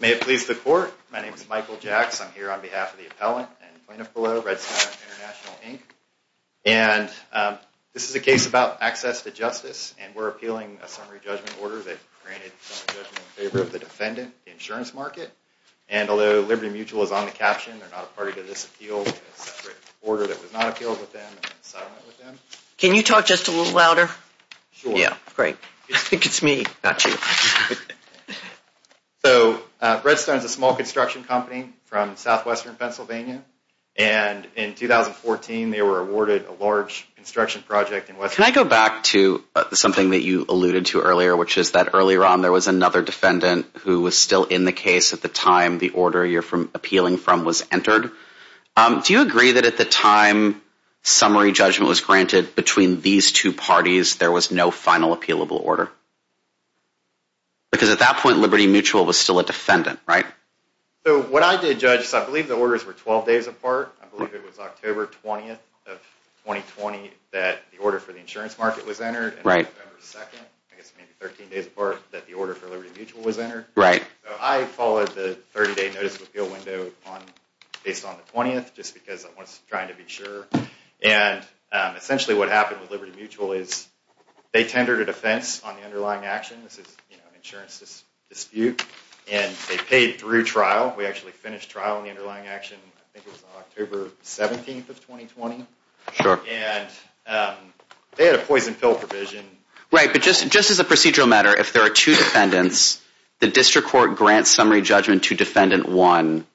May it please the court, my name is Michael Jacks. I'm here on behalf of the appellant and plaintiff below, Redstone International, Inc. And this is a case about access to justice, and we're appealing a summary judgment order that granted a summary judgment in favor of the defendant, the insurance market. And although Liberty Mutual is on the caption, they're not a party to this appeal, it's a separate order that was not appealed with them and is silent with them. Can you talk just a little louder? Sure. Yeah, great. I think it's me, not you. So, Redstone is a small construction company from southwestern Pennsylvania. And in 2014, they were awarded a large construction project in western Pennsylvania. Can I go back to something that you alluded to earlier, which is that earlier on there was another defendant who was still in the case at the time the order you're appealing from was entered. Do you agree that at the time summary judgment was granted between these two parties, there was no final appealable order? Because at that point, Liberty Mutual was still a defendant, right? So, what I did, Judge, is I believe the orders were 12 days apart. I believe it was October 20th of 2020 that the order for the insurance market was entered. Right. And November 2nd, I guess maybe 13 days apart, that the order for Liberty Mutual was entered. Right. So, I followed the 30-day notice of appeal window based on the 20th, just because I was trying to be sure. And essentially what happened with Liberty Mutual is they tendered a defense on the underlying action. This is an insurance dispute. And they paid through trial. We actually finished trial on the underlying action. I think it was October 17th of 2020. Sure. And they had a poison pill provision. Right. But just as a procedural matter, if there are two defendants, the district court grants summary judgment to defendant one,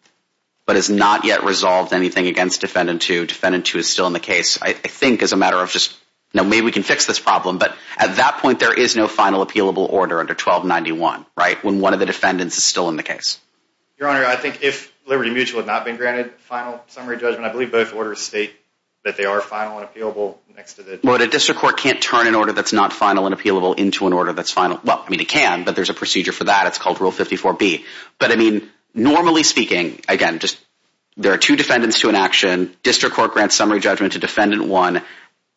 but has not yet resolved anything against defendant two. Defendant two is still in the case, I think, as a matter of just, you know, maybe we can fix this problem. But at that point, there is no final appealable order under 1291, right, when one of the defendants is still in the case. Your Honor, I think if Liberty Mutual had not been granted final summary judgment, I believe both orders state that they are final and appealable. But a district court can't turn an order that's not final and appealable into an order that's final. Well, I mean, it can, but there's a procedure for that. It's called Rule 54B. But, I mean, normally speaking, again, just there are two defendants to an action. District court grants summary judgment to defendant one.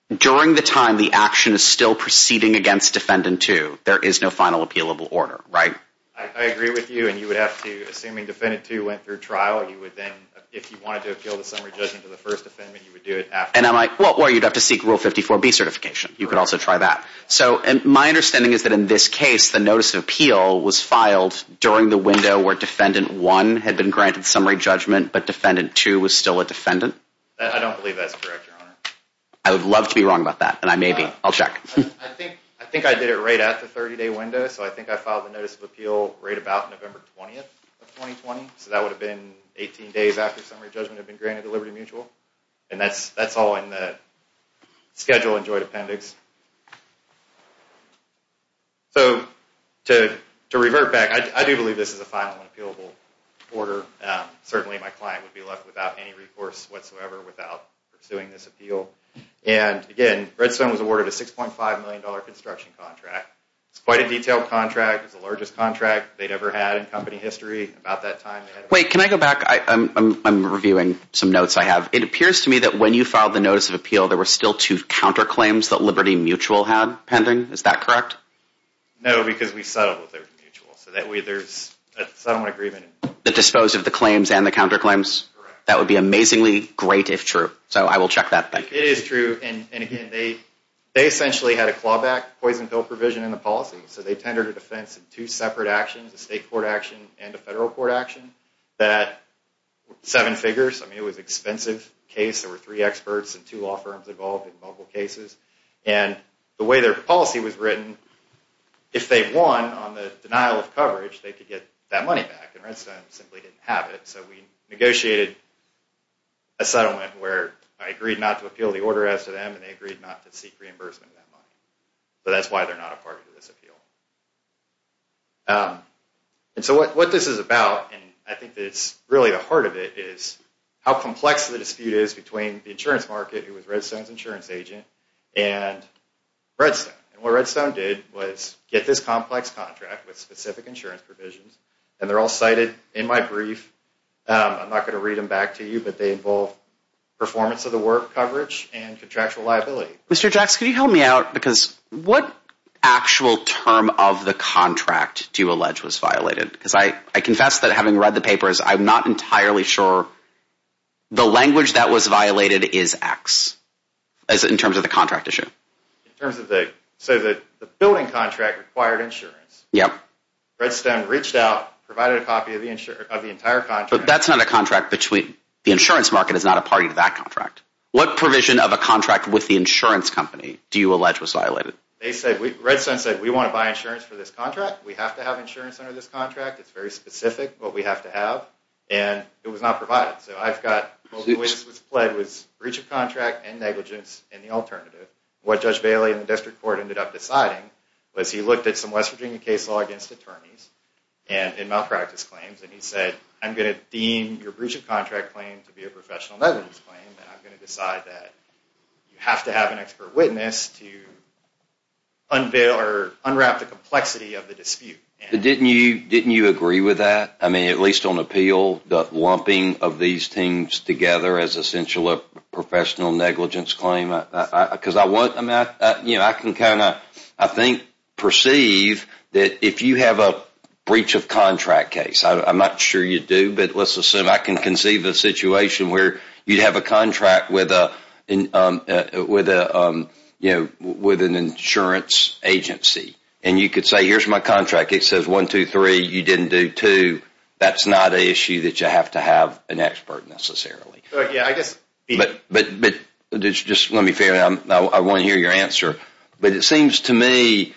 During the time the action is still proceeding against defendant two, there is no final appealable order, right? I agree with you. And you would have to, assuming defendant two went through trial, you would then, if you wanted to appeal the summary judgment to the first defendant, you would do it after. And I'm like, well, you'd have to seek Rule 54B certification. You could also try that. So my understanding is that in this case, the notice of appeal was filed during the window where defendant one had been granted summary judgment, but defendant two was still a defendant? I don't believe that's correct, Your Honor. I would love to be wrong about that, and I may be. I'll check. I think I did it right at the 30-day window. So I think I filed the notice of appeal right about November 20th of 2020. So that would have been 18 days after summary judgment had been granted to Liberty Mutual. And that's all in the schedule and joint appendix. So to revert back, I do believe this is a final appealable order. Certainly my client would be left without any recourse whatsoever without pursuing this appeal. And again, Redstone was awarded a $6.5 million construction contract. It's quite a detailed contract. It's the largest contract they'd ever had in company history. Wait, can I go back? I'm reviewing some notes I have. It appears to me that when you filed the notice of appeal, there were still two counterclaims that Liberty Mutual had pending. Is that correct? No, because we settled with Liberty Mutual. So that way there's a settlement agreement. The dispose of the claims and the counterclaims? Correct. That would be amazingly great if true. So I will check that. It is true. And again, they essentially had a clawback poison pill provision in the policy. So they tendered a defense in two separate actions, a state court action and a federal court action. That had seven figures. I mean, it was an expensive case. There were three experts and two law firms involved in multiple cases. And the way their policy was written, if they won on the denial of coverage, they could get that money back. And Redstone simply didn't have it. So we negotiated a settlement where I agreed not to appeal the order as to them, and they agreed not to seek reimbursement of that money. But that's why they're not a party to this appeal. And so what this is about, and I think it's really the heart of it, is how complex the dispute is between the insurance market, who was Redstone's insurance agent, and Redstone. And what Redstone did was get this complex contract with specific insurance provisions, and they're all cited in my brief. I'm not going to read them back to you, but they involve performance of the work, coverage, and contractual liability. Mr. Jackson, can you help me out? Because what actual term of the contract do you allege was violated? Because I confess that having read the papers, I'm not entirely sure. The language that was violated is X, in terms of the contract issue. In terms of the – so the billing contract required insurance. Yep. Redstone reached out, provided a copy of the entire contract. But that's not a contract between – the insurance market is not a party to that contract. What provision of a contract with the insurance company do you allege was violated? They said – Redstone said, we want to buy insurance for this contract. We have to have insurance under this contract. It's very specific what we have to have, and it was not provided. So I've got – what was pled was breach of contract and negligence and the alternative. What Judge Bailey and the district court ended up deciding was he looked at some West Virginia case law against attorneys and malpractice claims, and he said, I'm going to deem your breach of contract claim to be a professional negligence claim, and I'm going to decide that you have to have an expert witness to unveil or unwrap the complexity of the dispute. Didn't you agree with that? I mean, at least on appeal, the lumping of these things together as essential professional negligence claim? Because I want – I can kind of, I think, perceive that if you have a breach of contract case – I'm not sure you do, but let's assume I can conceive a situation where you have a contract with an insurance agency, and you could say, here's my contract. It says one, two, three. You didn't do two. That's not an issue that you have to have an expert necessarily. Yeah, I guess – But just let me – I want to hear your answer. But it seems to me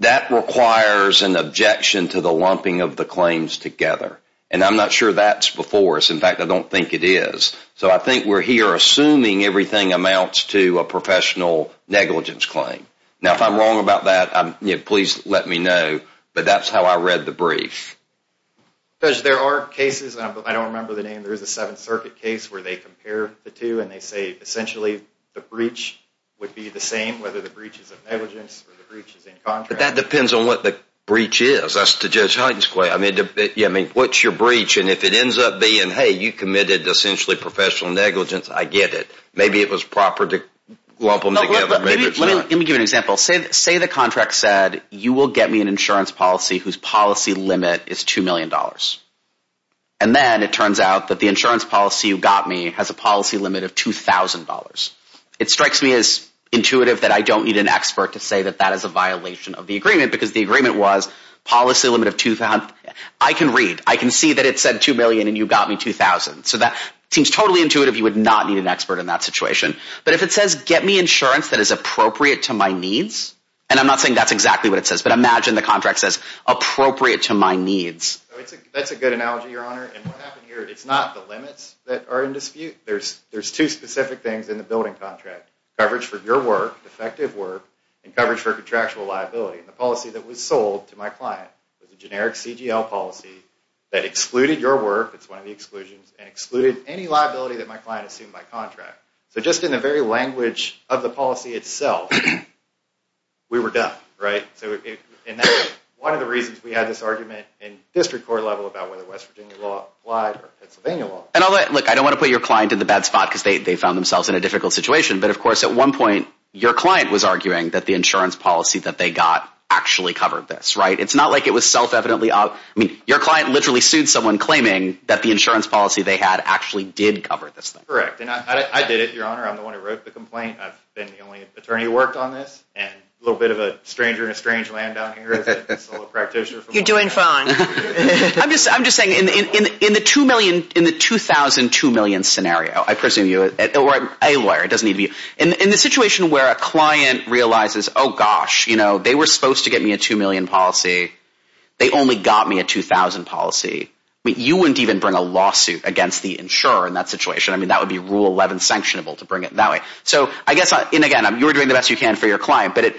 that requires an objection to the lumping of the claims together, and I'm not sure that's before us. In fact, I don't think it is. So I think we're here assuming everything amounts to a professional negligence claim. Now, if I'm wrong about that, please let me know, but that's how I read the brief. Judge, there are cases – I don't remember the name. There's a Seventh Circuit case where they compare the two, and they say essentially the breach would be the same, whether the breach is of negligence or the breach is in contract. But that depends on what the breach is. That's the Judge Hyten's claim. I mean, what's your breach? And if it ends up being, hey, you committed essentially professional negligence, I get it. Maybe it was proper to lump them together. Maybe it's not. Let me give you an example. Say the contract said you will get me an insurance policy whose policy limit is $2 million. And then it turns out that the insurance policy you got me has a policy limit of $2,000. It strikes me as intuitive that I don't need an expert to say that that is a violation of the agreement because the agreement was policy limit of – I can read. I can see that it said $2 million and you got me $2,000. So that seems totally intuitive. You would not need an expert in that situation. But if it says get me insurance that is appropriate to my needs, and I'm not saying that's exactly what it says, but imagine the contract says appropriate to my needs. That's a good analogy, Your Honor. And what happened here, it's not the limits that are in dispute. There's two specific things in the building contract, coverage for your work, effective work, and coverage for contractual liability. And the policy that was sold to my client was a generic CGL policy that excluded your work, that's one of the exclusions, and excluded any liability that my client assumed by contract. So just in the very language of the policy itself, we were done, right? And that's one of the reasons we had this argument in district court level about whether West Virginia law applied or Pennsylvania law. And look, I don't want to put your client in the bad spot because they found themselves in a difficult situation, but of course at one point your client was arguing that the insurance policy that they got actually covered this, right? It's not like it was self-evidently – I mean, your client literally sued someone claiming that the insurance policy they had actually did cover this thing. Correct, and I did it, Your Honor. I'm the one who wrote the complaint. I've been the only attorney who worked on this, and a little bit of a stranger in a strange land down here. You're doing fine. I'm just saying in the 2,000-2,000,000 scenario, I presume you're a lawyer. In the situation where a client realizes, oh, gosh, they were supposed to get me a 2,000,000 policy. They only got me a 2,000,000 policy. You wouldn't even bring a lawsuit against the insurer in that situation. I mean, that would be Rule 11 sanctionable to bring it that way. So I guess, and again, you're doing the best you can for your client, but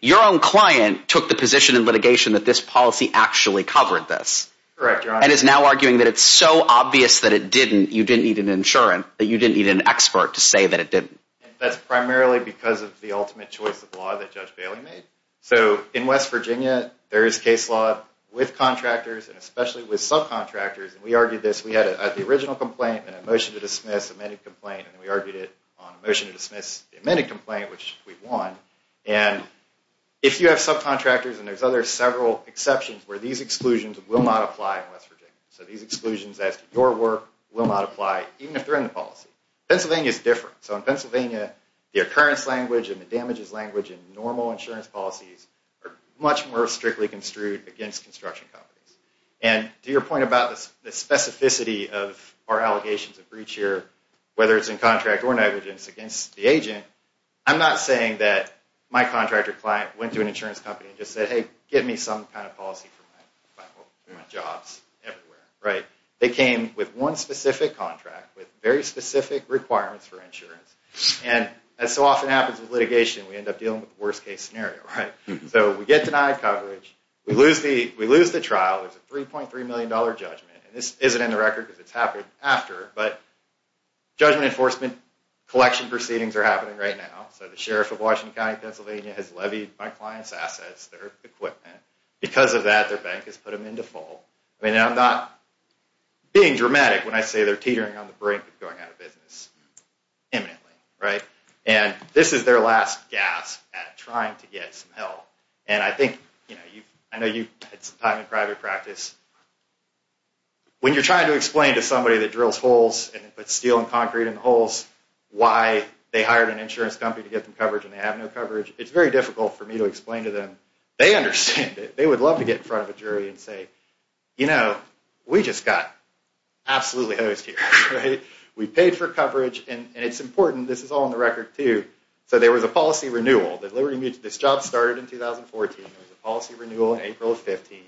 your own client took the position in litigation that this policy actually covered this. Correct, Your Honor. And is now arguing that it's so obvious that it didn't, you didn't need an insurant, that you didn't need an expert to say that it didn't. That's primarily because of the ultimate choice of law that Judge Bailey made. So in West Virginia, there is case law with contractors and especially with subcontractors, and we argued this. We had the original complaint and a motion to dismiss, amended complaint, and we argued it on a motion to dismiss the amended complaint, which we won. And if you have subcontractors, and there's other several exceptions where these exclusions will not apply in West Virginia. So these exclusions as to your work will not apply even if they're in the policy. Pennsylvania is different. So in Pennsylvania, the occurrence language and the damages language in normal insurance policies are much more strictly construed against construction companies. And to your point about the specificity of our allegations of breach here, whether it's in contract or negligence against the agent, I'm not saying that my contractor client went to an insurance company and just said, hey, give me some kind of policy for my jobs everywhere, right? They came with one specific contract with very specific requirements for insurance. And as so often happens with litigation, we end up dealing with the worst case scenario, right? So we get denied coverage. We lose the trial. There's a $3.3 million judgment. And this isn't in the record because it's happened after, but judgment enforcement collection proceedings are happening right now. So the sheriff of Washington County, Pennsylvania, has levied my client's assets, their equipment. Because of that, their bank has put them into full. I mean, I'm not being dramatic when I say they're teetering on the brink of going out of business imminently, right? And this is their last gasp at trying to get some help. And I think, you know, I know you've had some time in private practice. When you're trying to explain to somebody that drills holes and puts steel and concrete in the holes why they hired an insurance company to get them coverage and they have no coverage, it's very difficult for me to explain to them. They understand it. They would love to get in front of a jury and say, you know, we just got absolutely hosed here, right? We paid for coverage, and it's important. This is all in the record, too. So there was a policy renewal. This job started in 2014. There was a policy renewal in April of 15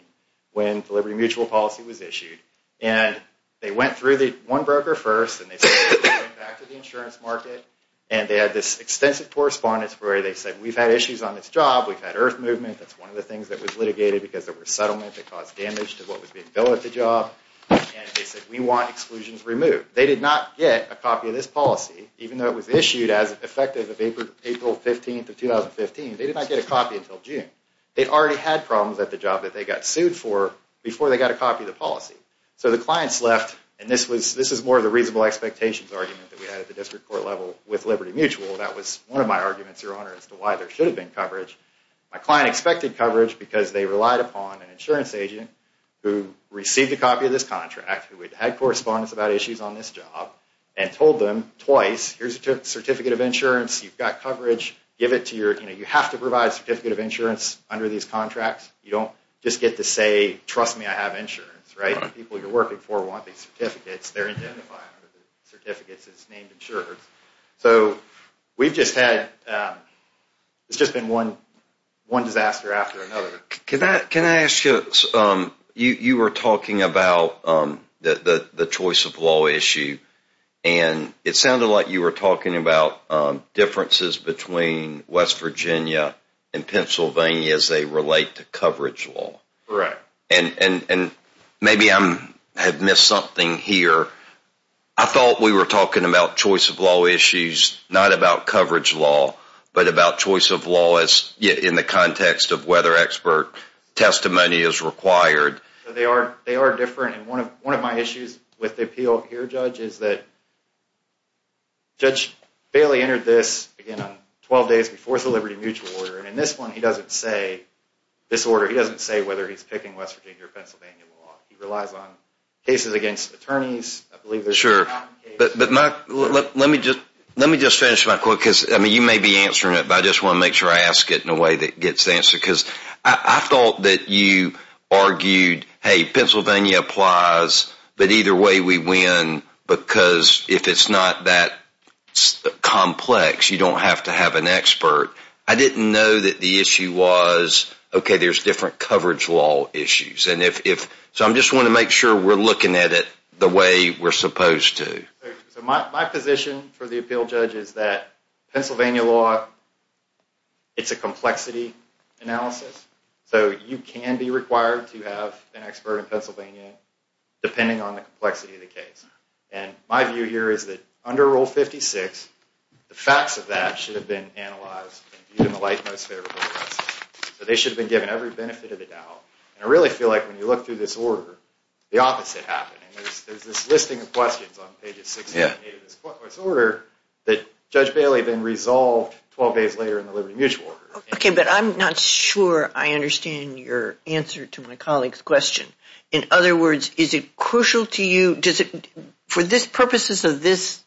when the Liberty Mutual policy was issued. And they went through one broker first, and they said, we're going back to the insurance market. And they had this extensive correspondence where they said, we've had issues on this job. We've had earth movement. That's one of the things that was litigated because there was settlement that caused damage to what was being billed at the job. And they said, we want exclusions removed. They did not get a copy of this policy, even though it was issued as effective of April 15 of 2015. They did not get a copy until June. They already had problems at the job that they got sued for before they got a copy of the policy. So the clients left, and this is more of the reasonable expectations argument that we had at the district court level with Liberty Mutual. That was one of my arguments, Your Honor, as to why there should have been coverage. My client expected coverage because they relied upon an insurance agent who received a copy of this contract, who had had correspondence about issues on this job, and told them twice, here's a certificate of insurance. You've got coverage. You have to provide a certificate of insurance under these contracts. You don't just get to say, trust me, I have insurance. The people you're working for want these certificates. They're identified under the certificates. It's named insurance. So we've just had, it's just been one disaster after another. Can I ask you, you were talking about the choice of law issue, and it sounded like you were talking about differences between West Virginia and Pennsylvania as they relate to coverage law. Correct. And maybe I have missed something here. I thought we were talking about choice of law issues, not about coverage law, but about choice of law in the context of whether expert testimony is required. They are different, and one of my issues with the appeal here, Judge, is that Judge Bailey entered this, again, 12 days before the Liberty Mutual order, and in this one he doesn't say, this order, he doesn't say whether he's picking West Virginia or Pennsylvania law. He relies on cases against attorneys. Sure. But let me just finish my quote, because, I mean, you may be answering it, but I just want to make sure I ask it in a way that gets answered. Because I thought that you argued, hey, Pennsylvania applies, but either way we win, because if it's not that complex, you don't have to have an expert. I didn't know that the issue was, okay, there's different coverage law issues. So I just want to make sure we're looking at it the way we're supposed to. My position for the appeal, Judge, is that Pennsylvania law, it's a complexity analysis. So you can be required to have an expert in Pennsylvania, depending on the complexity of the case. And my view here is that under Rule 56, the facts of that should have been analyzed and viewed in the light most favorable of us. And I really feel like when you look through this order, the opposite happened. There's this listing of questions on page 68 of this order that Judge Bailey then resolved 12 days later in the Liberty Mutual Order. Okay, but I'm not sure I understand your answer to my colleague's question. In other words, is it crucial to you, for purposes of this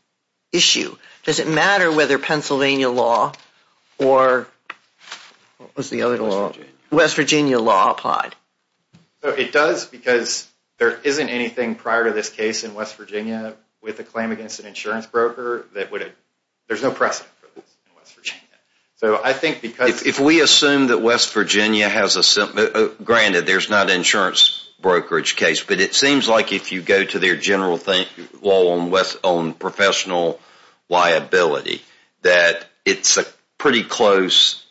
issue, does it matter whether Pennsylvania law or West Virginia law applied? It does, because there isn't anything prior to this case in West Virginia with a claim against an insurance broker. There's no precedent for this in West Virginia. If we assume that West Virginia has a, granted, there's not an insurance brokerage case, but it seems like if you go to their general law on professional liability, that it's a pretty close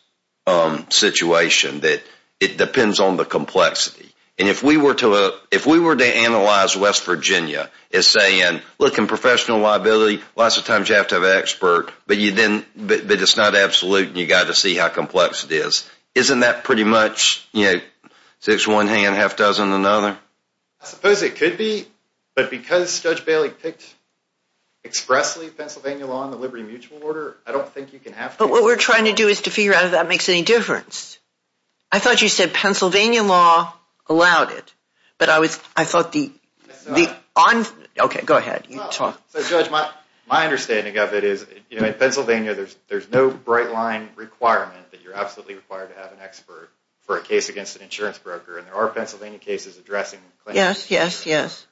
situation that it depends on the complexity. And if we were to analyze West Virginia as saying, look, in professional liability, lots of times you have to have an expert, but it's not absolute and you've got to see how complex it is, isn't that pretty much, you know, it's one hand, half-dozen, another? I suppose it could be, but because Judge Bailey picked expressly Pennsylvania law in the Liberty Mutual Order, I don't think you can have to. But what we're trying to do is to figure out if that makes any difference. I thought you said Pennsylvania law allowed it, but I was, I thought the, okay, go ahead. My understanding of it is, you know, in Pennsylvania there's no bright line requirement that you're absolutely required to have an expert for a case against an insurance broker, and there are Pennsylvania cases addressing claims. Yes, yes, yes.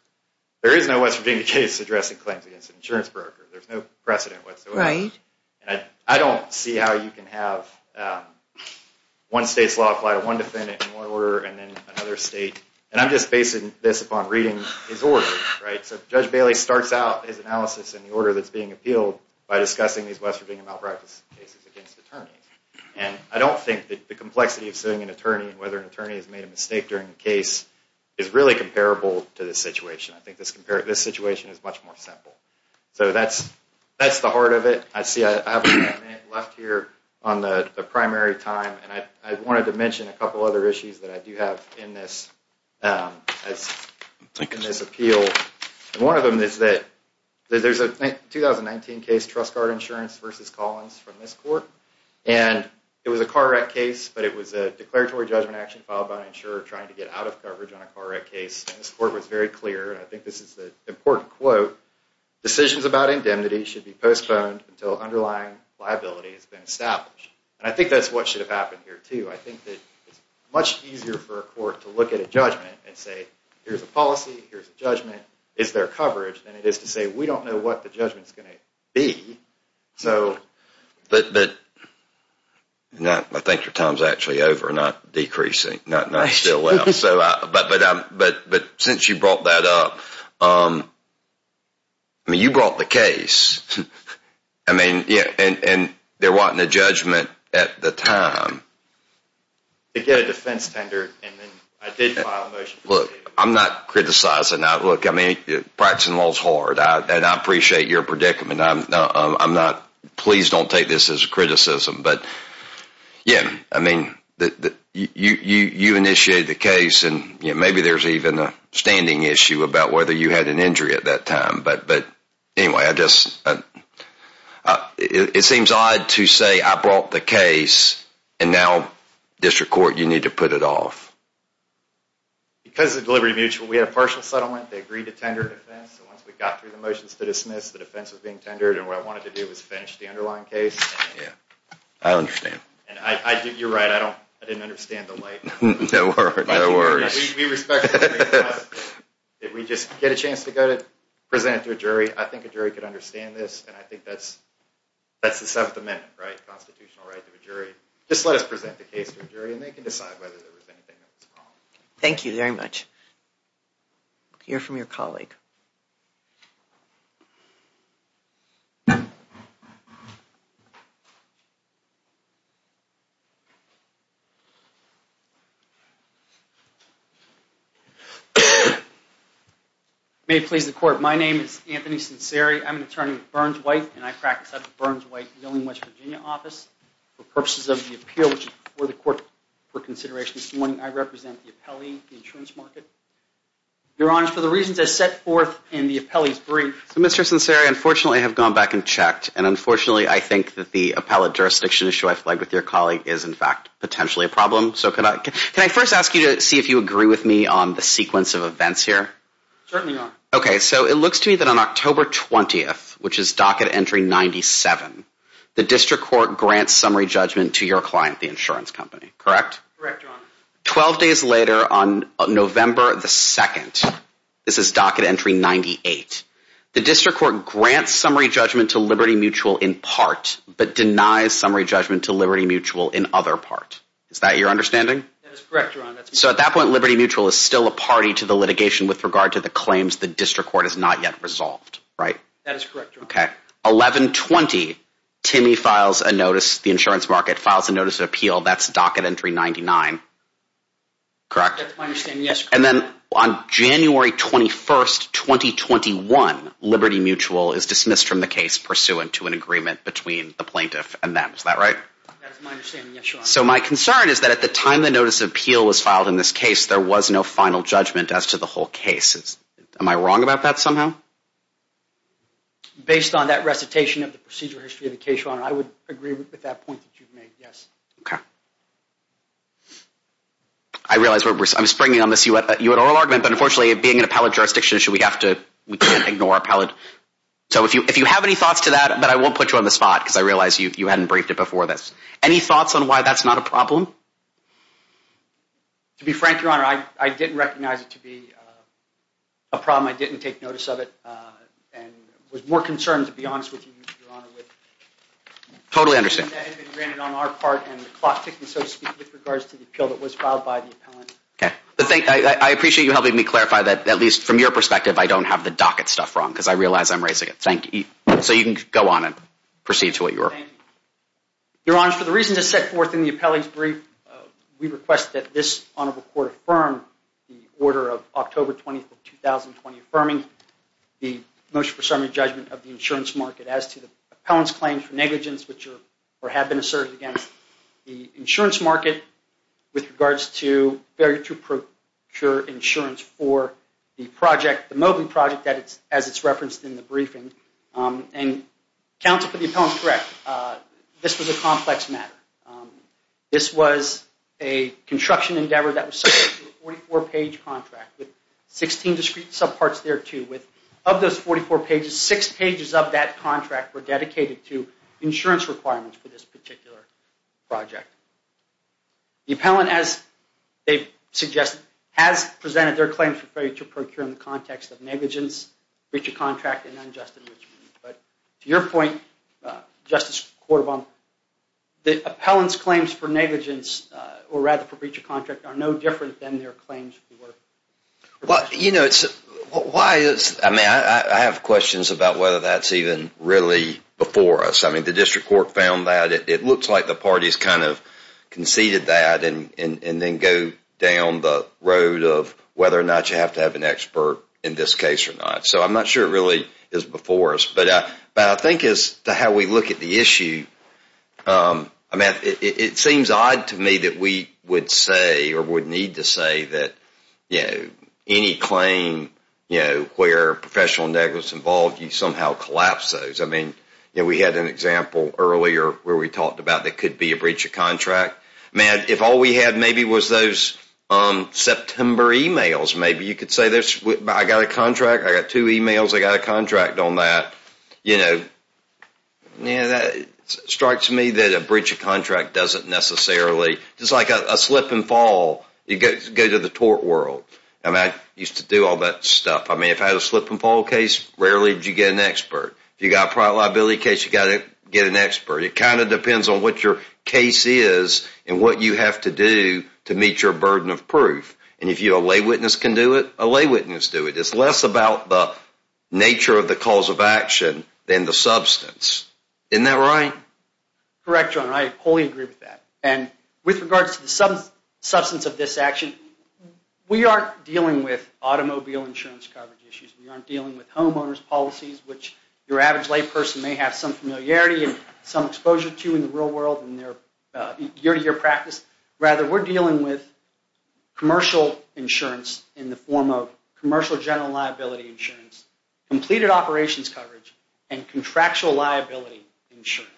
There is no West Virginia case addressing claims against an insurance broker. There's no precedent whatsoever. Right. And I don't see how you can have one state's law apply to one defendant in one order and then another state, and I'm just basing this upon reading his order, right? So Judge Bailey starts out his analysis in the order that's being appealed by discussing these West Virginia malpractice cases against attorneys, and I don't think that the complexity of suing an attorney and whether an attorney has made a mistake during the case is really comparable to this situation. I think this situation is much more simple. So that's the heart of it. I see I have a minute left here on the primary time, and I wanted to mention a couple other issues that I do have in this appeal. One of them is that there's a 2019 case, Trust Guard Insurance v. Collins, from this court, and it was a car wreck case, but it was a declaratory judgment action filed by an insurer trying to get out of coverage on a car wreck case, and this court was very clear, and I think this is an important quote, decisions about indemnity should be postponed until underlying liability has been established. And I think that's what should have happened here, too. I think that it's much easier for a court to look at a judgment and say, here's a policy, here's a judgment, is there coverage, than it is to say we don't know what the judgment's going to be. But I think your time's actually over, not decreasing, not still up. But since you brought that up, I mean, you brought the case, and they're wanting a judgment at the time. They get a defense tender, and then I did file a motion. Look, I'm not criticizing. Look, I mean, practicing law's hard, and I appreciate your predicament. Please don't take this as a criticism. But, yeah, I mean, you initiated the case, and maybe there's even a standing issue about whether you had an injury at that time. But anyway, it seems odd to say I brought the case, and now district court, you need to put it off. Because of Deliberative Mutual, we had a partial settlement. They agreed to tender a defense. So once we got through the motions to dismiss, the defense was being tendered, and what I wanted to do was finish the underlying case. Yeah, I understand. And you're right. I didn't understand the light. No worries. If we just get a chance to go to present it to a jury, I think a jury could understand this, and I think that's the Seventh Amendment, right, constitutional right of a jury. Just let us present the case to a jury, and they can decide whether there was anything that was wrong. Thank you very much. We'll hear from your colleague. May it please the Court. My name is Anthony Cinceri. I'm an attorney with Burns-White, and I practice at the Burns-White Wheeling, West Virginia office. For purposes of the appeal before the Court for consideration this morning, I represent the appellee, the insurance market. Your Honor, for the reasons I set forth in the appellee's brief. Mr. Cinceri, unfortunately, I have gone back and checked, and unfortunately, I think that the appellate jurisdiction issue I flagged with your colleague is, in fact, potentially a problem. So can I first ask you to see if you agree with me on the sequence of events here? Certainly, Your Honor. Okay, so it looks to me that on October 20th, which is docket entry 97, the District Court grants summary judgment to your client, the insurance company. Correct? Correct, Your Honor. Twelve days later, on November 2nd, this is docket entry 98, the District Court grants summary judgment to Liberty Mutual in part, but denies summary judgment to Liberty Mutual in other part. Is that your understanding? That is correct, Your Honor. So at that point, Liberty Mutual is still a party to the litigation with regard to the claims the District Court has not yet resolved, right? That is correct, Your Honor. Okay. 11-20, Timmy files a notice, the insurance market files a notice of appeal. That's docket entry 99. Correct? That's my understanding, yes, Your Honor. And then on January 21st, 2021, Liberty Mutual is dismissed from the case pursuant to an agreement between the plaintiff and them. Is that right? That is my understanding, yes, Your Honor. So my concern is that at the time the notice of appeal was filed in this case, there was no final judgment as to the whole case. Am I wrong about that somehow? Based on that recitation of the procedure history of the case, Your Honor, I would agree with that point that you've made, yes. Okay. I realize I'm springing on this U.N. oral argument, but unfortunately, being an appellate jurisdiction issue, we can't ignore appellate. So if you have any thoughts to that, but I won't put you on the spot because I realize you hadn't briefed it before this. Any thoughts on why that's not a problem? To be frank, Your Honor, I didn't recognize it to be a problem. I didn't take notice of it and was more concerned, to be honest with you, Your Honor, with... Totally understand. ...that had been granted on our part and the clock ticking, so to speak, with regards to the appeal that was filed by the appellant. Okay. I appreciate you helping me clarify that, at least from your perspective, I don't have the docket stuff wrong because I realize I'm raising it. Thank you. So you can go on and proceed to what you were... Thank you. Your Honor, for the reasons I set forth in the appellee's brief, we request that this Honorable Court affirm the order of October 20th of 2020, affirming the motion for summary judgment of the insurance market as to the appellant's claims for negligence, which have been asserted against the insurance market with regards to failure to procure insurance for the project, the Mobley project, as it's referenced in the briefing. And counsel, for the appellant, is correct. This was a complex matter. This was a construction endeavor that was subject to a 44-page contract with 16 discrete subparts thereto. Of those 44 pages, six pages of that contract were dedicated to insurance requirements for this particular project. The appellant, as they suggest, has presented their claims for failure to procure in the context of negligence, breach of contract, and unjust impeachment. But to your point, Justice Cordova, the appellant's claims for negligence, or rather for breach of contract, are no different than their claims. Well, you know, I have questions about whether that's even really before us. I mean, the district court found that. It looks like the parties kind of conceded that and then go down the road of whether or not you have to have an expert in this case or not. So I'm not sure it really is before us. But I think as to how we look at the issue, I mean, it seems odd to me that we would say or would need to say that any claim where professional negligence is involved, you somehow collapse those. I mean, we had an example earlier where we talked about there could be a breach of contract. I mean, if all we had maybe was those September emails, maybe you could say, I got a contract, I got two emails, I got a contract on that. You know, it strikes me that a breach of contract doesn't necessarily, just like a slip and fall, you go to the tort world. I mean, I used to do all that stuff. I mean, if I had a slip and fall case, rarely did you get an expert. If you got a private liability case, you got to get an expert. It kind of depends on what your case is and what you have to do to meet your burden of proof. And if a lay witness can do it, a lay witness can do it. It's less about the nature of the cause of action than the substance. Isn't that right? Correct, John. I wholly agree with that. And with regards to the substance of this action, we aren't dealing with automobile insurance coverage issues. We aren't dealing with homeowner's policies, which your average lay person may have some familiarity and some exposure to in the real world and their year-to-year practice. Rather, we're dealing with commercial insurance in the form of commercial general liability insurance, completed operations coverage, and contractual liability insurance.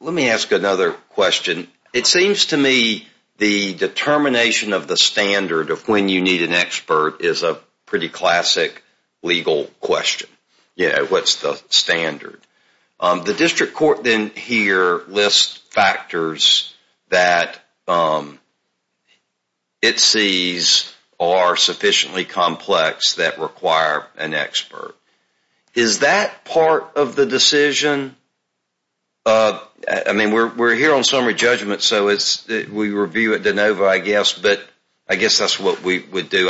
Let me ask another question. It seems to me the determination of the standard of when you need an expert is a pretty classic legal question. What's the standard? The district court then here lists factors that it sees are sufficiently complex that require an expert. Is that part of the decision? I mean, we're here on summary judgment, so we review it de novo, I guess, but I guess that's what we would do.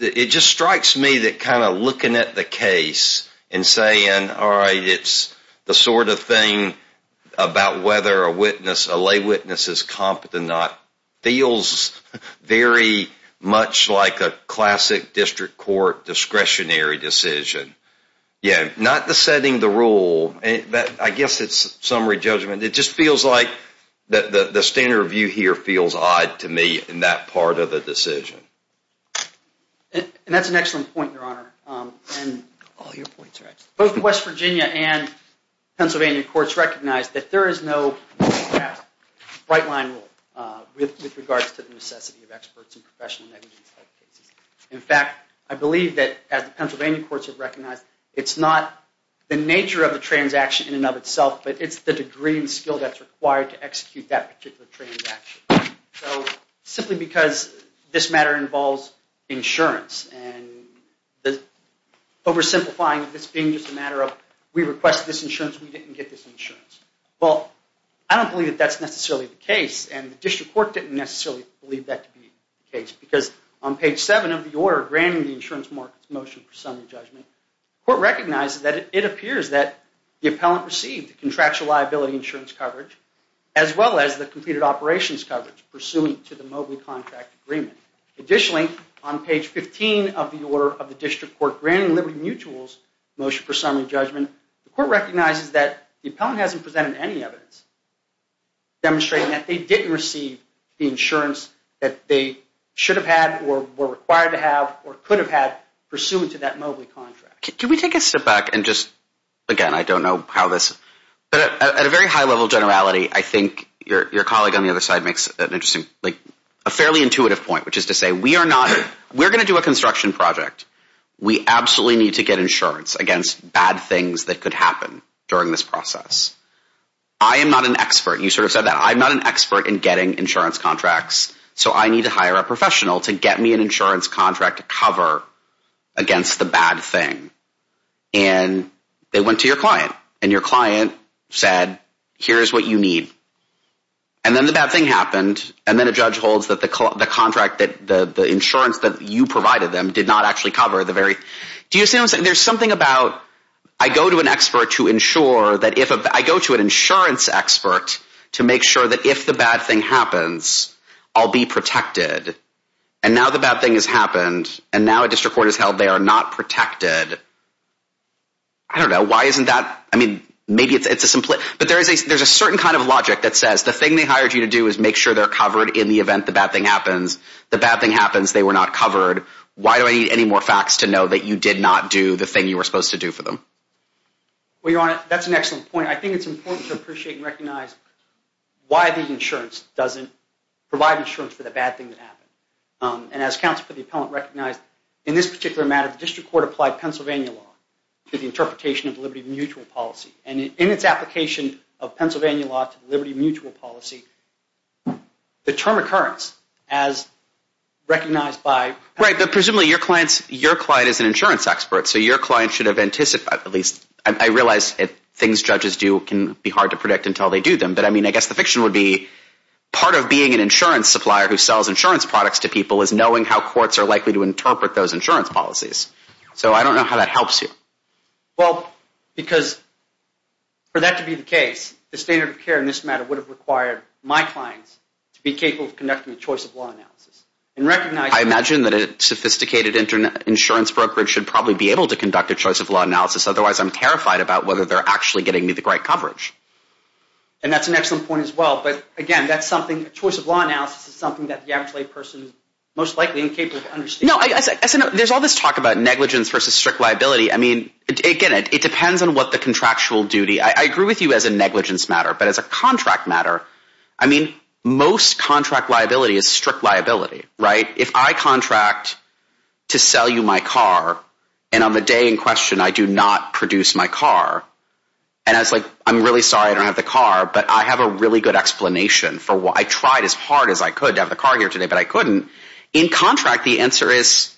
It just strikes me that kind of looking at the case and saying, all right, it's the sort of thing about whether a witness, a lay witness is competent or not, feels very much like a classic district court discretionary decision. Yeah, not the setting the rule, but I guess it's summary judgment. It just feels like the standard review here feels odd to me in that part of the decision. And that's an excellent point, Your Honor. All your points are excellent. Both West Virginia and Pennsylvania courts recognize that there is no right line rule with regards to the necessity of experts in professional negligence type cases. In fact, I believe that as the Pennsylvania courts have recognized, it's not the nature of the transaction in and of itself, but it's the degree and skill that's required to execute that particular transaction. So simply because this matter involves insurance and oversimplifying this being just a matter of we request this insurance, we didn't get this insurance. Well, I don't believe that that's necessarily the case, and the district court didn't necessarily believe that to be the case because on page 7 of the order granting the insurance market's motion for summary judgment, the court recognizes that it appears that the appellant received the contractual liability insurance coverage as well as the completed operations coverage pursuant to the mobile contract agreement. Additionally, on page 15 of the order of the district court granting Liberty Mutual's motion for summary judgment, the court recognizes that the appellant hasn't presented any evidence demonstrating that they didn't receive the insurance that they should have had or were required to have or could have had pursuant to that mobile contract. Can we take a step back and just, again, I don't know how this, but at a very high level of generality, I think your colleague on the other side makes an interesting, like, a fairly intuitive point, which is to say we are not, we're going to do a construction project. We absolutely need to get insurance against bad things that could happen during this process. I am not an expert. You sort of said that. I'm not an expert in getting insurance contracts, so I need to hire a professional to get me an insurance contract cover against the bad thing. And they went to your client, and your client said, here's what you need. And then the bad thing happened, and then a judge holds that the contract, the insurance that you provided them did not actually cover the very, do you see what I'm saying? There's something about, I go to an expert to ensure that if, I go to an insurance expert to make sure that if the bad thing happens, I'll be protected. And now the bad thing has happened, and now a district court has held they are not protected. I don't know. Why isn't that, I mean, maybe it's a, but there's a certain kind of logic that says the thing they hired you to do is make sure they're covered in the event the bad thing happens. The bad thing happens, they were not covered. Why do I need any more facts to know that you did not do the thing you were supposed to do for them? Well, Your Honor, that's an excellent point. I think it's important to appreciate and recognize why the insurance doesn't provide insurance for the bad things that happen. And as counsel for the appellant recognized, in this particular matter, the district court applied Pennsylvania law to the interpretation of the liberty of mutual policy. And in its application of Pennsylvania law to the liberty of mutual policy, the term occurrence as recognized by- Right, but presumably your client is an insurance expert, so your client should have anticipated, at least I realize things judges do can be hard to predict until they do them, but I mean, I guess the fiction would be part of being an insurance supplier who sells insurance products to people is knowing how courts are likely to interpret those insurance policies. So I don't know how that helps you. Well, because for that to be the case, the standard of care in this matter would have required my clients to be capable of conducting a choice of law analysis and recognize- I imagine that a sophisticated insurance brokerage should probably be able to conduct a choice of law analysis, otherwise I'm terrified about whether they're actually getting me the right coverage. And that's an excellent point as well, but again, that's something, a choice of law analysis is something that the average layperson is most likely incapable of understanding. No, there's all this talk about negligence versus strict liability. I mean, again, it depends on what the contractual duty- I agree with you as a negligence matter, but as a contract matter, I mean, most contract liability is strict liability, right? If I contract to sell you my car, and on the day in question I do not produce my car, and I was like, I'm really sorry, I don't have the car, but I have a really good explanation for why I tried as hard as I could to have the car here today, but I couldn't. In contract, the answer is,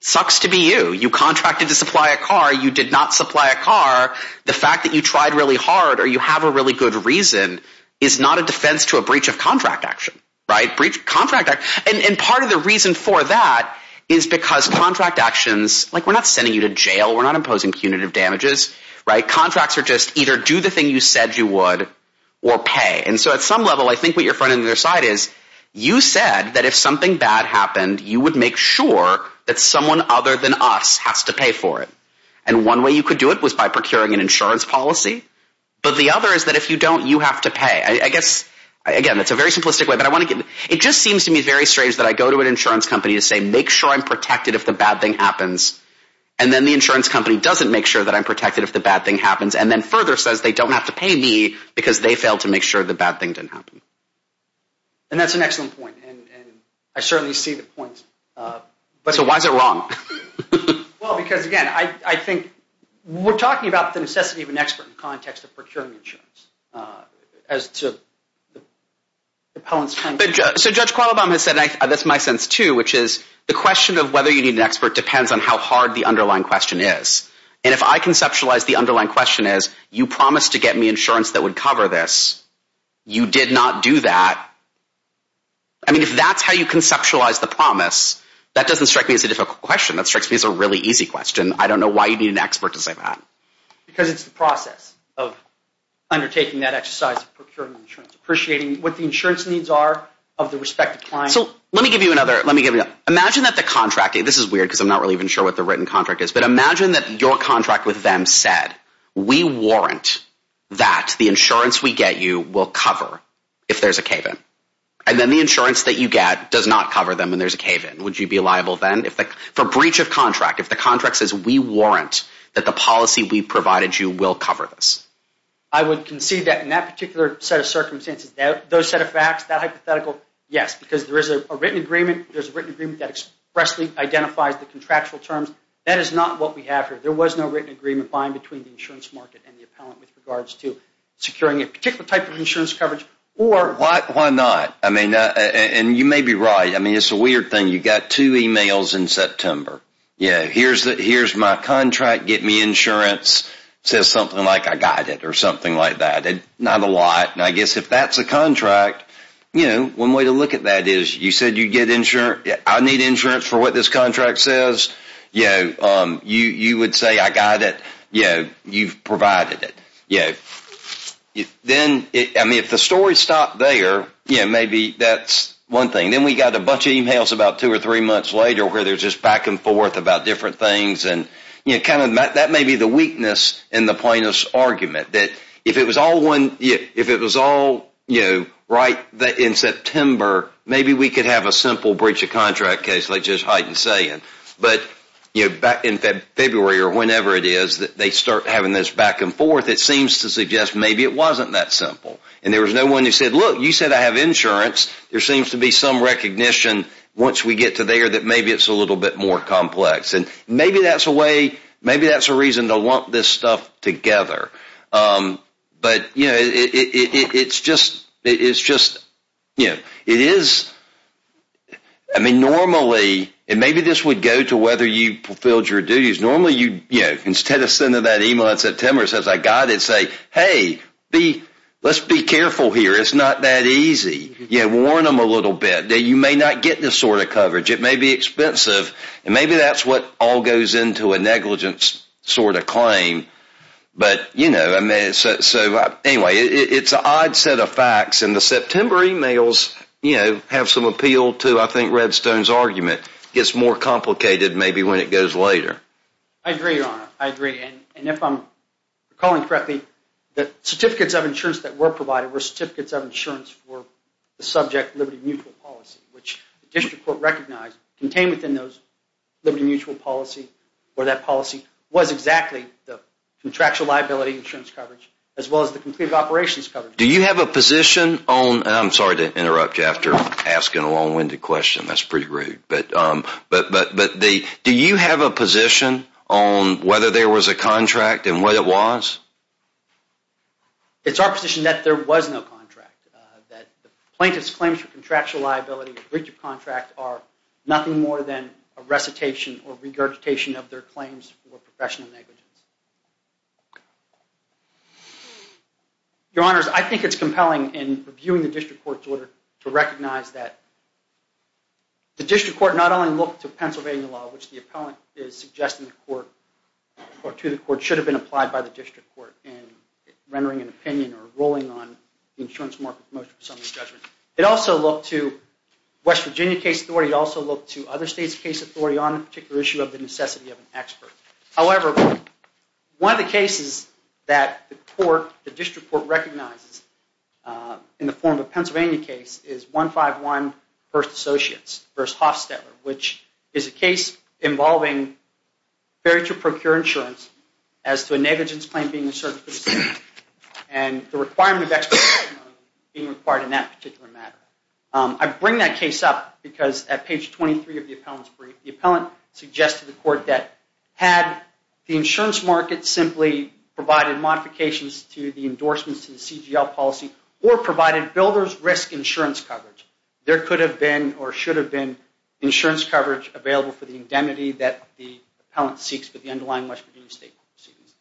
sucks to be you. You contracted to supply a car, you did not supply a car, the fact that you tried really hard or you have a really good reason is not a defense to a breach of contract action. And part of the reason for that is because contract actions, like we're not sending you to jail, we're not imposing punitive damages, right? Contracts are just either do the thing you said you would or pay. And so at some level, I think what you're trying to decide is, you said that if something bad happened, you would make sure that someone other than us has to pay for it. And one way you could do it was by procuring an insurance policy, but the other is that if you don't, you have to pay. I guess, again, it's a very simplistic way, but I want to get- it just seems to me very strange that I go to an insurance company to say, make sure I'm protected if the bad thing happens, and then the insurance company doesn't make sure that I'm protected if the bad thing happens, and then further says they don't have to pay me because they failed to make sure the bad thing didn't happen. And that's an excellent point, and I certainly see the point. But so why is it wrong? Well, because, again, I think we're talking about the necessity of an expert in the context of procuring insurance. As to the appellant's- So Judge Qualabong has said, and that's my sense too, which is the question of whether you need an expert depends on how hard the underlying question is. And if I conceptualize the underlying question as, you promised to get me insurance that would cover this, you did not do that. I mean, if that's how you conceptualize the promise, that doesn't strike me as a difficult question. That strikes me as a really easy question. I don't know why you need an expert to say that. Because it's the process of undertaking that exercise of procuring insurance, appreciating what the insurance needs are of the respective client. So let me give you another- let me give you- imagine that the contract- this is weird because I'm not really even sure what the written contract is, but imagine that your contract with them said, we warrant that the insurance we get you will cover if there's a cave-in. And then the insurance that you get does not cover them when there's a cave-in. Would you be liable then? For breach of contract, if the contract says, we warrant that the policy we provided you will cover this. I would concede that in that particular set of circumstances, those set of facts, that hypothetical, yes. Because there is a written agreement. There's a written agreement that expressly identifies the contractual terms. That is not what we have here. There was no written agreement by and between the insurance market and the appellant with regards to securing a particular type of insurance coverage or- Why not? I mean, and you may be right. I mean, it's a weird thing. You got two emails in September. Yeah, here's my contract. Get me insurance. It says something like, I got it, or something like that. Not a lot. And I guess if that's a contract, you know, one way to look at that is, you said you'd get insurance. I need insurance for what this contract says. You know, you would say, I got it. You know, you've provided it. Yeah. Then, I mean, if the story stopped there, you know, maybe that's one thing. Then we got a bunch of emails about two or three months later where there's just back and forth about different things. And, you know, kind of that may be the weakness in the plaintiff's argument, that if it was all one, if it was all, you know, right in September, maybe we could have a simple breach of contract case like Joe's heighten saying. But, you know, back in February or whenever it is that they start having this back and forth, it seems to suggest maybe it wasn't that simple. And there was no one who said, look, you said I have insurance. There seems to be some recognition once we get to there that maybe it's a little bit more complex. And maybe that's a way, maybe that's a reason to lump this stuff together. But, you know, it's just, you know, it is, I mean, normally, and maybe this would go to whether you fulfilled your duties. Normally, you know, instead of sending that email in September, it says I got it, say, hey, let's be careful here. It's not that easy. You know, warn them a little bit that you may not get this sort of coverage. It may be expensive. And maybe that's what all goes into a negligence sort of claim. But, you know, so anyway, it's an odd set of facts. And the September emails, you know, have some appeal to, I think, Redstone's argument. It gets more complicated maybe when it goes later. I agree, Your Honor. I agree. And if I'm recalling correctly, the certificates of insurance that were provided were certificates of insurance for the subject liberty mutual policy, which the district court recognized contained within those liberty mutual policy or that policy was exactly the contractual liability insurance coverage as well as the completed operations coverage. Do you have a position on – and I'm sorry to interrupt you after asking a long-winded question. That's pretty rude. But do you have a position on whether there was a contract and what it was? It's our position that there was no contract, that the plaintiff's claims for contractual liability and breach of contract are nothing more than a recitation or regurgitation of their claims for professional negligence. Your Honors, I think it's compelling in reviewing the district court's order to recognize that the district court not only looked to Pennsylvania law, which the appellant is suggesting to the court should have been applied by the district court in rendering an opinion or ruling on the insurance market motion for summary judgment. It also looked to West Virginia case authority. It also looked to other states' case authority on a particular issue of the necessity of an expert. However, one of the cases that the district court recognizes in the form of a Pennsylvania case is 151 First Associates v. Hofstetler, which is a case involving failure to procure insurance as to a negligence claim being asserted for the state and the requirement of expert testimony being required in that particular matter. I bring that case up because at page 23 of the appellant's brief, the appellant suggested to the court that had the insurance market simply provided modifications to the endorsements to the CGL policy or provided builder's risk insurance coverage, there could have been or should have been insurance coverage available for the indemnity that the appellant seeks for the underlying West Virginia state proceedings.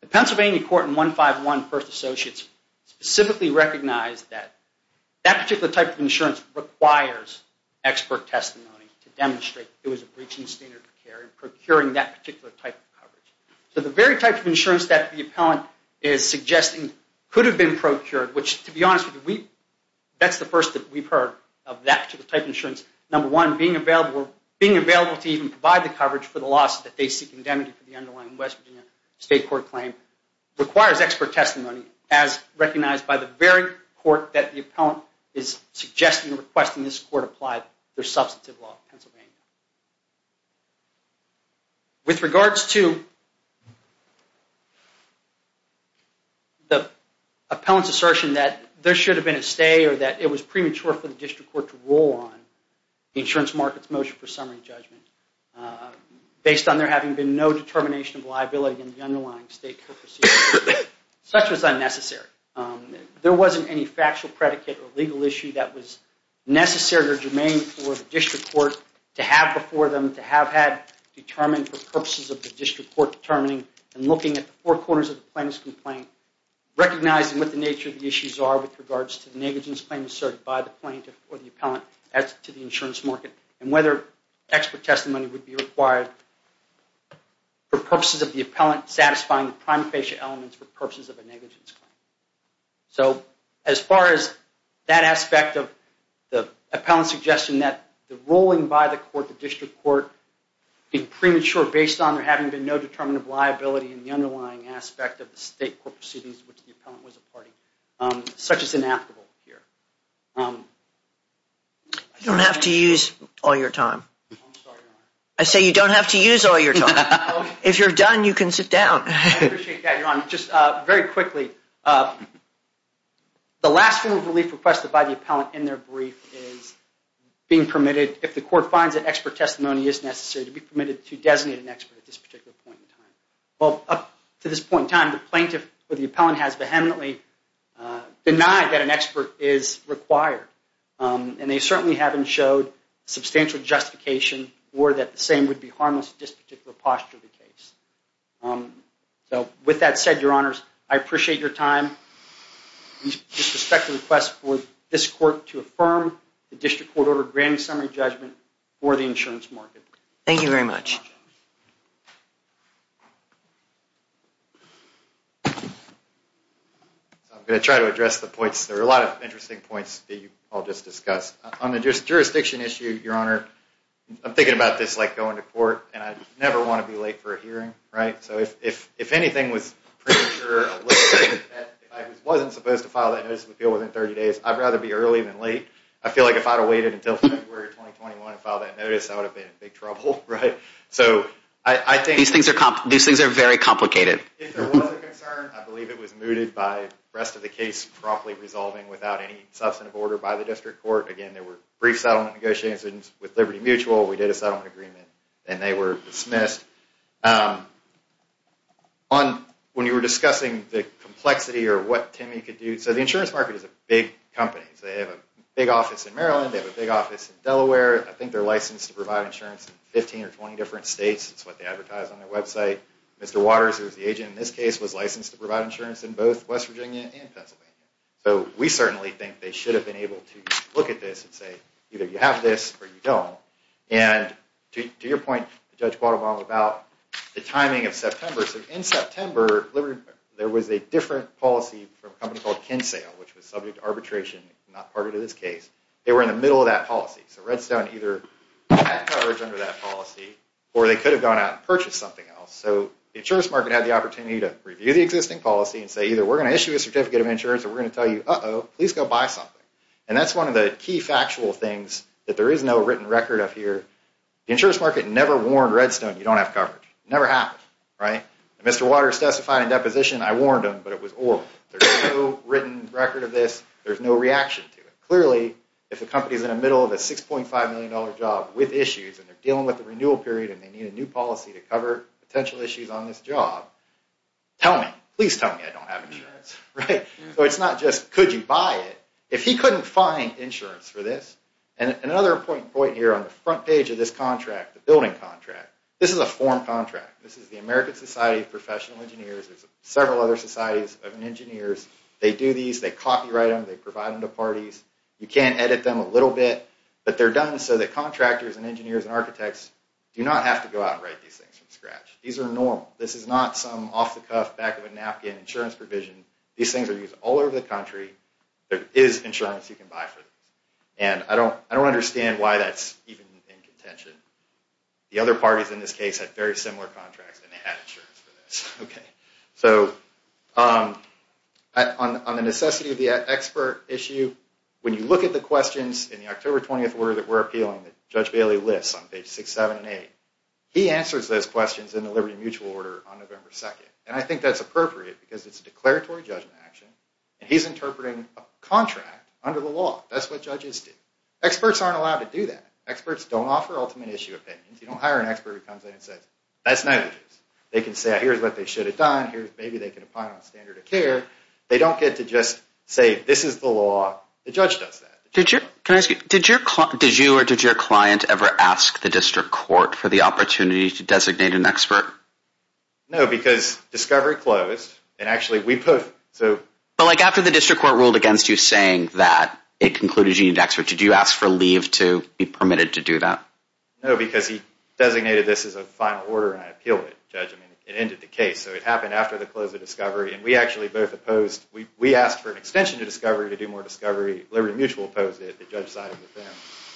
The Pennsylvania court in 151 First Associates specifically recognized that That particular type of insurance requires expert testimony to demonstrate it was a breaching standard of care in procuring that particular type of coverage. So the very type of insurance that the appellant is suggesting could have been procured, which to be honest with you, that's the first that we've heard of that particular type of insurance. Number one, being available to even provide the coverage for the loss that they seek indemnity for the underlying West Virginia state court claim requires expert testimony as recognized by the very court that the appellant is suggesting or requesting this court apply their substantive law in Pennsylvania. With regards to the appellant's assertion that there should have been a stay or that it was premature for the district court to roll on the insurance market's motion for summary judgment based on there having been no determination of liability in the underlying state court proceedings, such was unnecessary. There wasn't any factual predicate or legal issue that was necessary or germane for the district court to have before them to have had determined for purposes of the district court determining and looking at the four corners of the plaintiff's complaint, recognizing what the nature of the issues are with regards to the negligence claim asserted by the plaintiff or the appellant as to the insurance market and whether expert testimony would be required for purposes of the appellant satisfying the prime facial elements for purposes of a negligence claim. So as far as that aspect of the appellant's suggestion that the rolling by the court, the district court, being premature based on there having been no determinative liability in the underlying aspect of the state court proceedings, which the appellant was a party, such is inapplicable here. You don't have to use all your time. I say you don't have to use all your time. If you're done, you can sit down. I appreciate that, Your Honor. Just very quickly, the last form of relief requested by the appellant in their brief is being permitted, if the court finds that expert testimony is necessary, to be permitted to designate an expert at this particular point in time. Well, up to this point in time, the plaintiff or the appellant has vehemently denied that an expert is required, and they certainly haven't showed substantial justification or that the same would be harmless to this particular posture of the case. So with that said, Your Honors, I appreciate your time. We disrespect the request for this court to affirm the district court-ordered grand summary judgment for the insurance market. Thank you very much. I'm going to try to address the points. There are a lot of interesting points that you all just discussed. On the jurisdiction issue, Your Honor, I'm thinking about this like going to court, and I never want to be late for a hearing. So if anything was premature, if I wasn't supposed to file that notice of appeal within 30 days, I'd rather be early than late. I feel like if I'd have waited until February 2021 to file that notice, I would have been in big trouble. These things are very complicated. If there was a concern, I believe it was mooted by the rest of the case promptly resolving without any substantive order by the district court. Again, there were brief settlement negotiations with Liberty Mutual. We did a settlement agreement, and they were dismissed. When you were discussing the complexity or what Timmy could do, so the insurance market is a big company. They have a big office in Maryland. They have a big office in Delaware. I think they're licensed to provide insurance in 15 or 20 different states. That's what they advertise on their website. Mr. Waters, who is the agent in this case, was licensed to provide insurance in both West Virginia and Pennsylvania. So we certainly think they should have been able to look at this and say, either you have this or you don't. And to your point, Judge Guadalobo, about the timing of September. So in September, there was a different policy from a company called Kinsale, which was subject to arbitration, not part of this case. They were in the middle of that policy. So Redstone either had coverage under that policy, or they could have gone out and purchased something else. So the insurance market had the opportunity to review the existing policy and say, either we're going to issue a certificate of insurance, or we're going to tell you, uh-oh, please go buy something. And that's one of the key factual things that there is no written record of here. The insurance market never warned Redstone, you don't have coverage. It never happened, right? Mr. Waters testified in deposition. I warned him, but it was oral. There's no written record of this. There's no reaction to it. Clearly, if a company is in the middle of a $6.5 million job with issues, and they're dealing with the renewal period, and they need a new policy to cover potential issues on this job, tell me. Please tell me I don't have insurance, right? So it's not just could you buy it. If he couldn't find insurance for this, and another important point here on the front page of this contract, the building contract, this is a form contract. This is the American Society of Professional Engineers. There's several other societies of engineers. They do these, they copyright them, they provide them to parties. You can edit them a little bit, but they're done so that contractors and engineers and architects do not have to go out and write these things from scratch. These are normal. This is not some off-the-cuff, back-of-a-napkin insurance provision. These things are used all over the country. There is insurance you can buy for this, and I don't understand why that's even in contention. The other parties in this case had very similar contracts, and they had insurance for this. So on the necessity of the expert issue, when you look at the questions in the October 20th order that we're appealing that Judge Bailey lists on pages 6, 7, and 8, he answers those questions in the Liberty Mutual order on November 2nd, and I think that's appropriate because it's a declaratory judgment action, and he's interpreting a contract under the law. That's what judges do. Experts aren't allowed to do that. Experts don't offer ultimate issue opinions. You don't hire an expert who comes in and says, that's negligence. They can say, here's what they should have done. Maybe they can apply it on standard of care. They don't get to just say, this is the law. The judge does that. Did you or did your client ever ask the district court for the opportunity to designate an expert? No, because discovery closed, and actually we both, so. But like after the district court ruled against you saying that it concluded you needed an expert, did you ask for leave to be permitted to do that? No, because he designated this as a final order and I appealed it, Judge. I mean, it ended the case. So it happened after the close of discovery, and we actually both opposed. We asked for an extension to discovery to do more discovery. Liberty Mutual opposed it. The judge sided with them.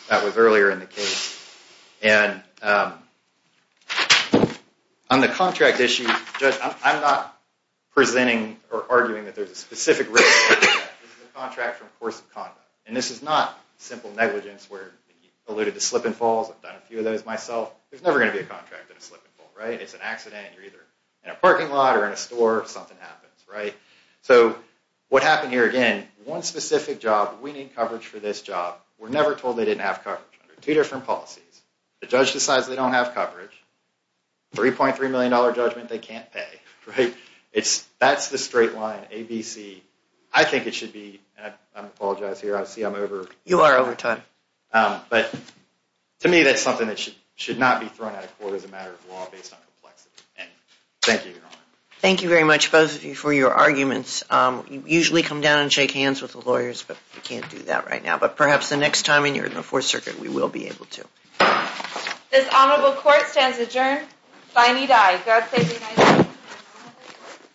That was earlier in the case. And on the contract issue, Judge, I'm not presenting or arguing that there's a specific risk. This is a contract from a course of conduct, and this is not simple negligence where you alluded to slip and falls. I've done a few of those myself. There's never going to be a contract in a slip and fall, right? It's an accident. You're either in a parking lot or in a store, something happens, right? So what happened here, again, one specific job, we need coverage for this job. We're never told they didn't have coverage. Two different policies. The judge decides they don't have coverage. $3.3 million judgment they can't pay, right? That's the straight line, ABC. I think it should be, and I apologize here, I see I'm over. You are over time. But to me, that's something that should not be thrown out of court as a matter of law based on complexity. And thank you, Your Honor. Thank you very much, both of you, for your arguments. You usually come down and shake hands with the lawyers, but you can't do that right now. But perhaps the next time when you're in the Fourth Circuit, we will be able to. This honorable court stands adjourned. Thiney die. God save the United States.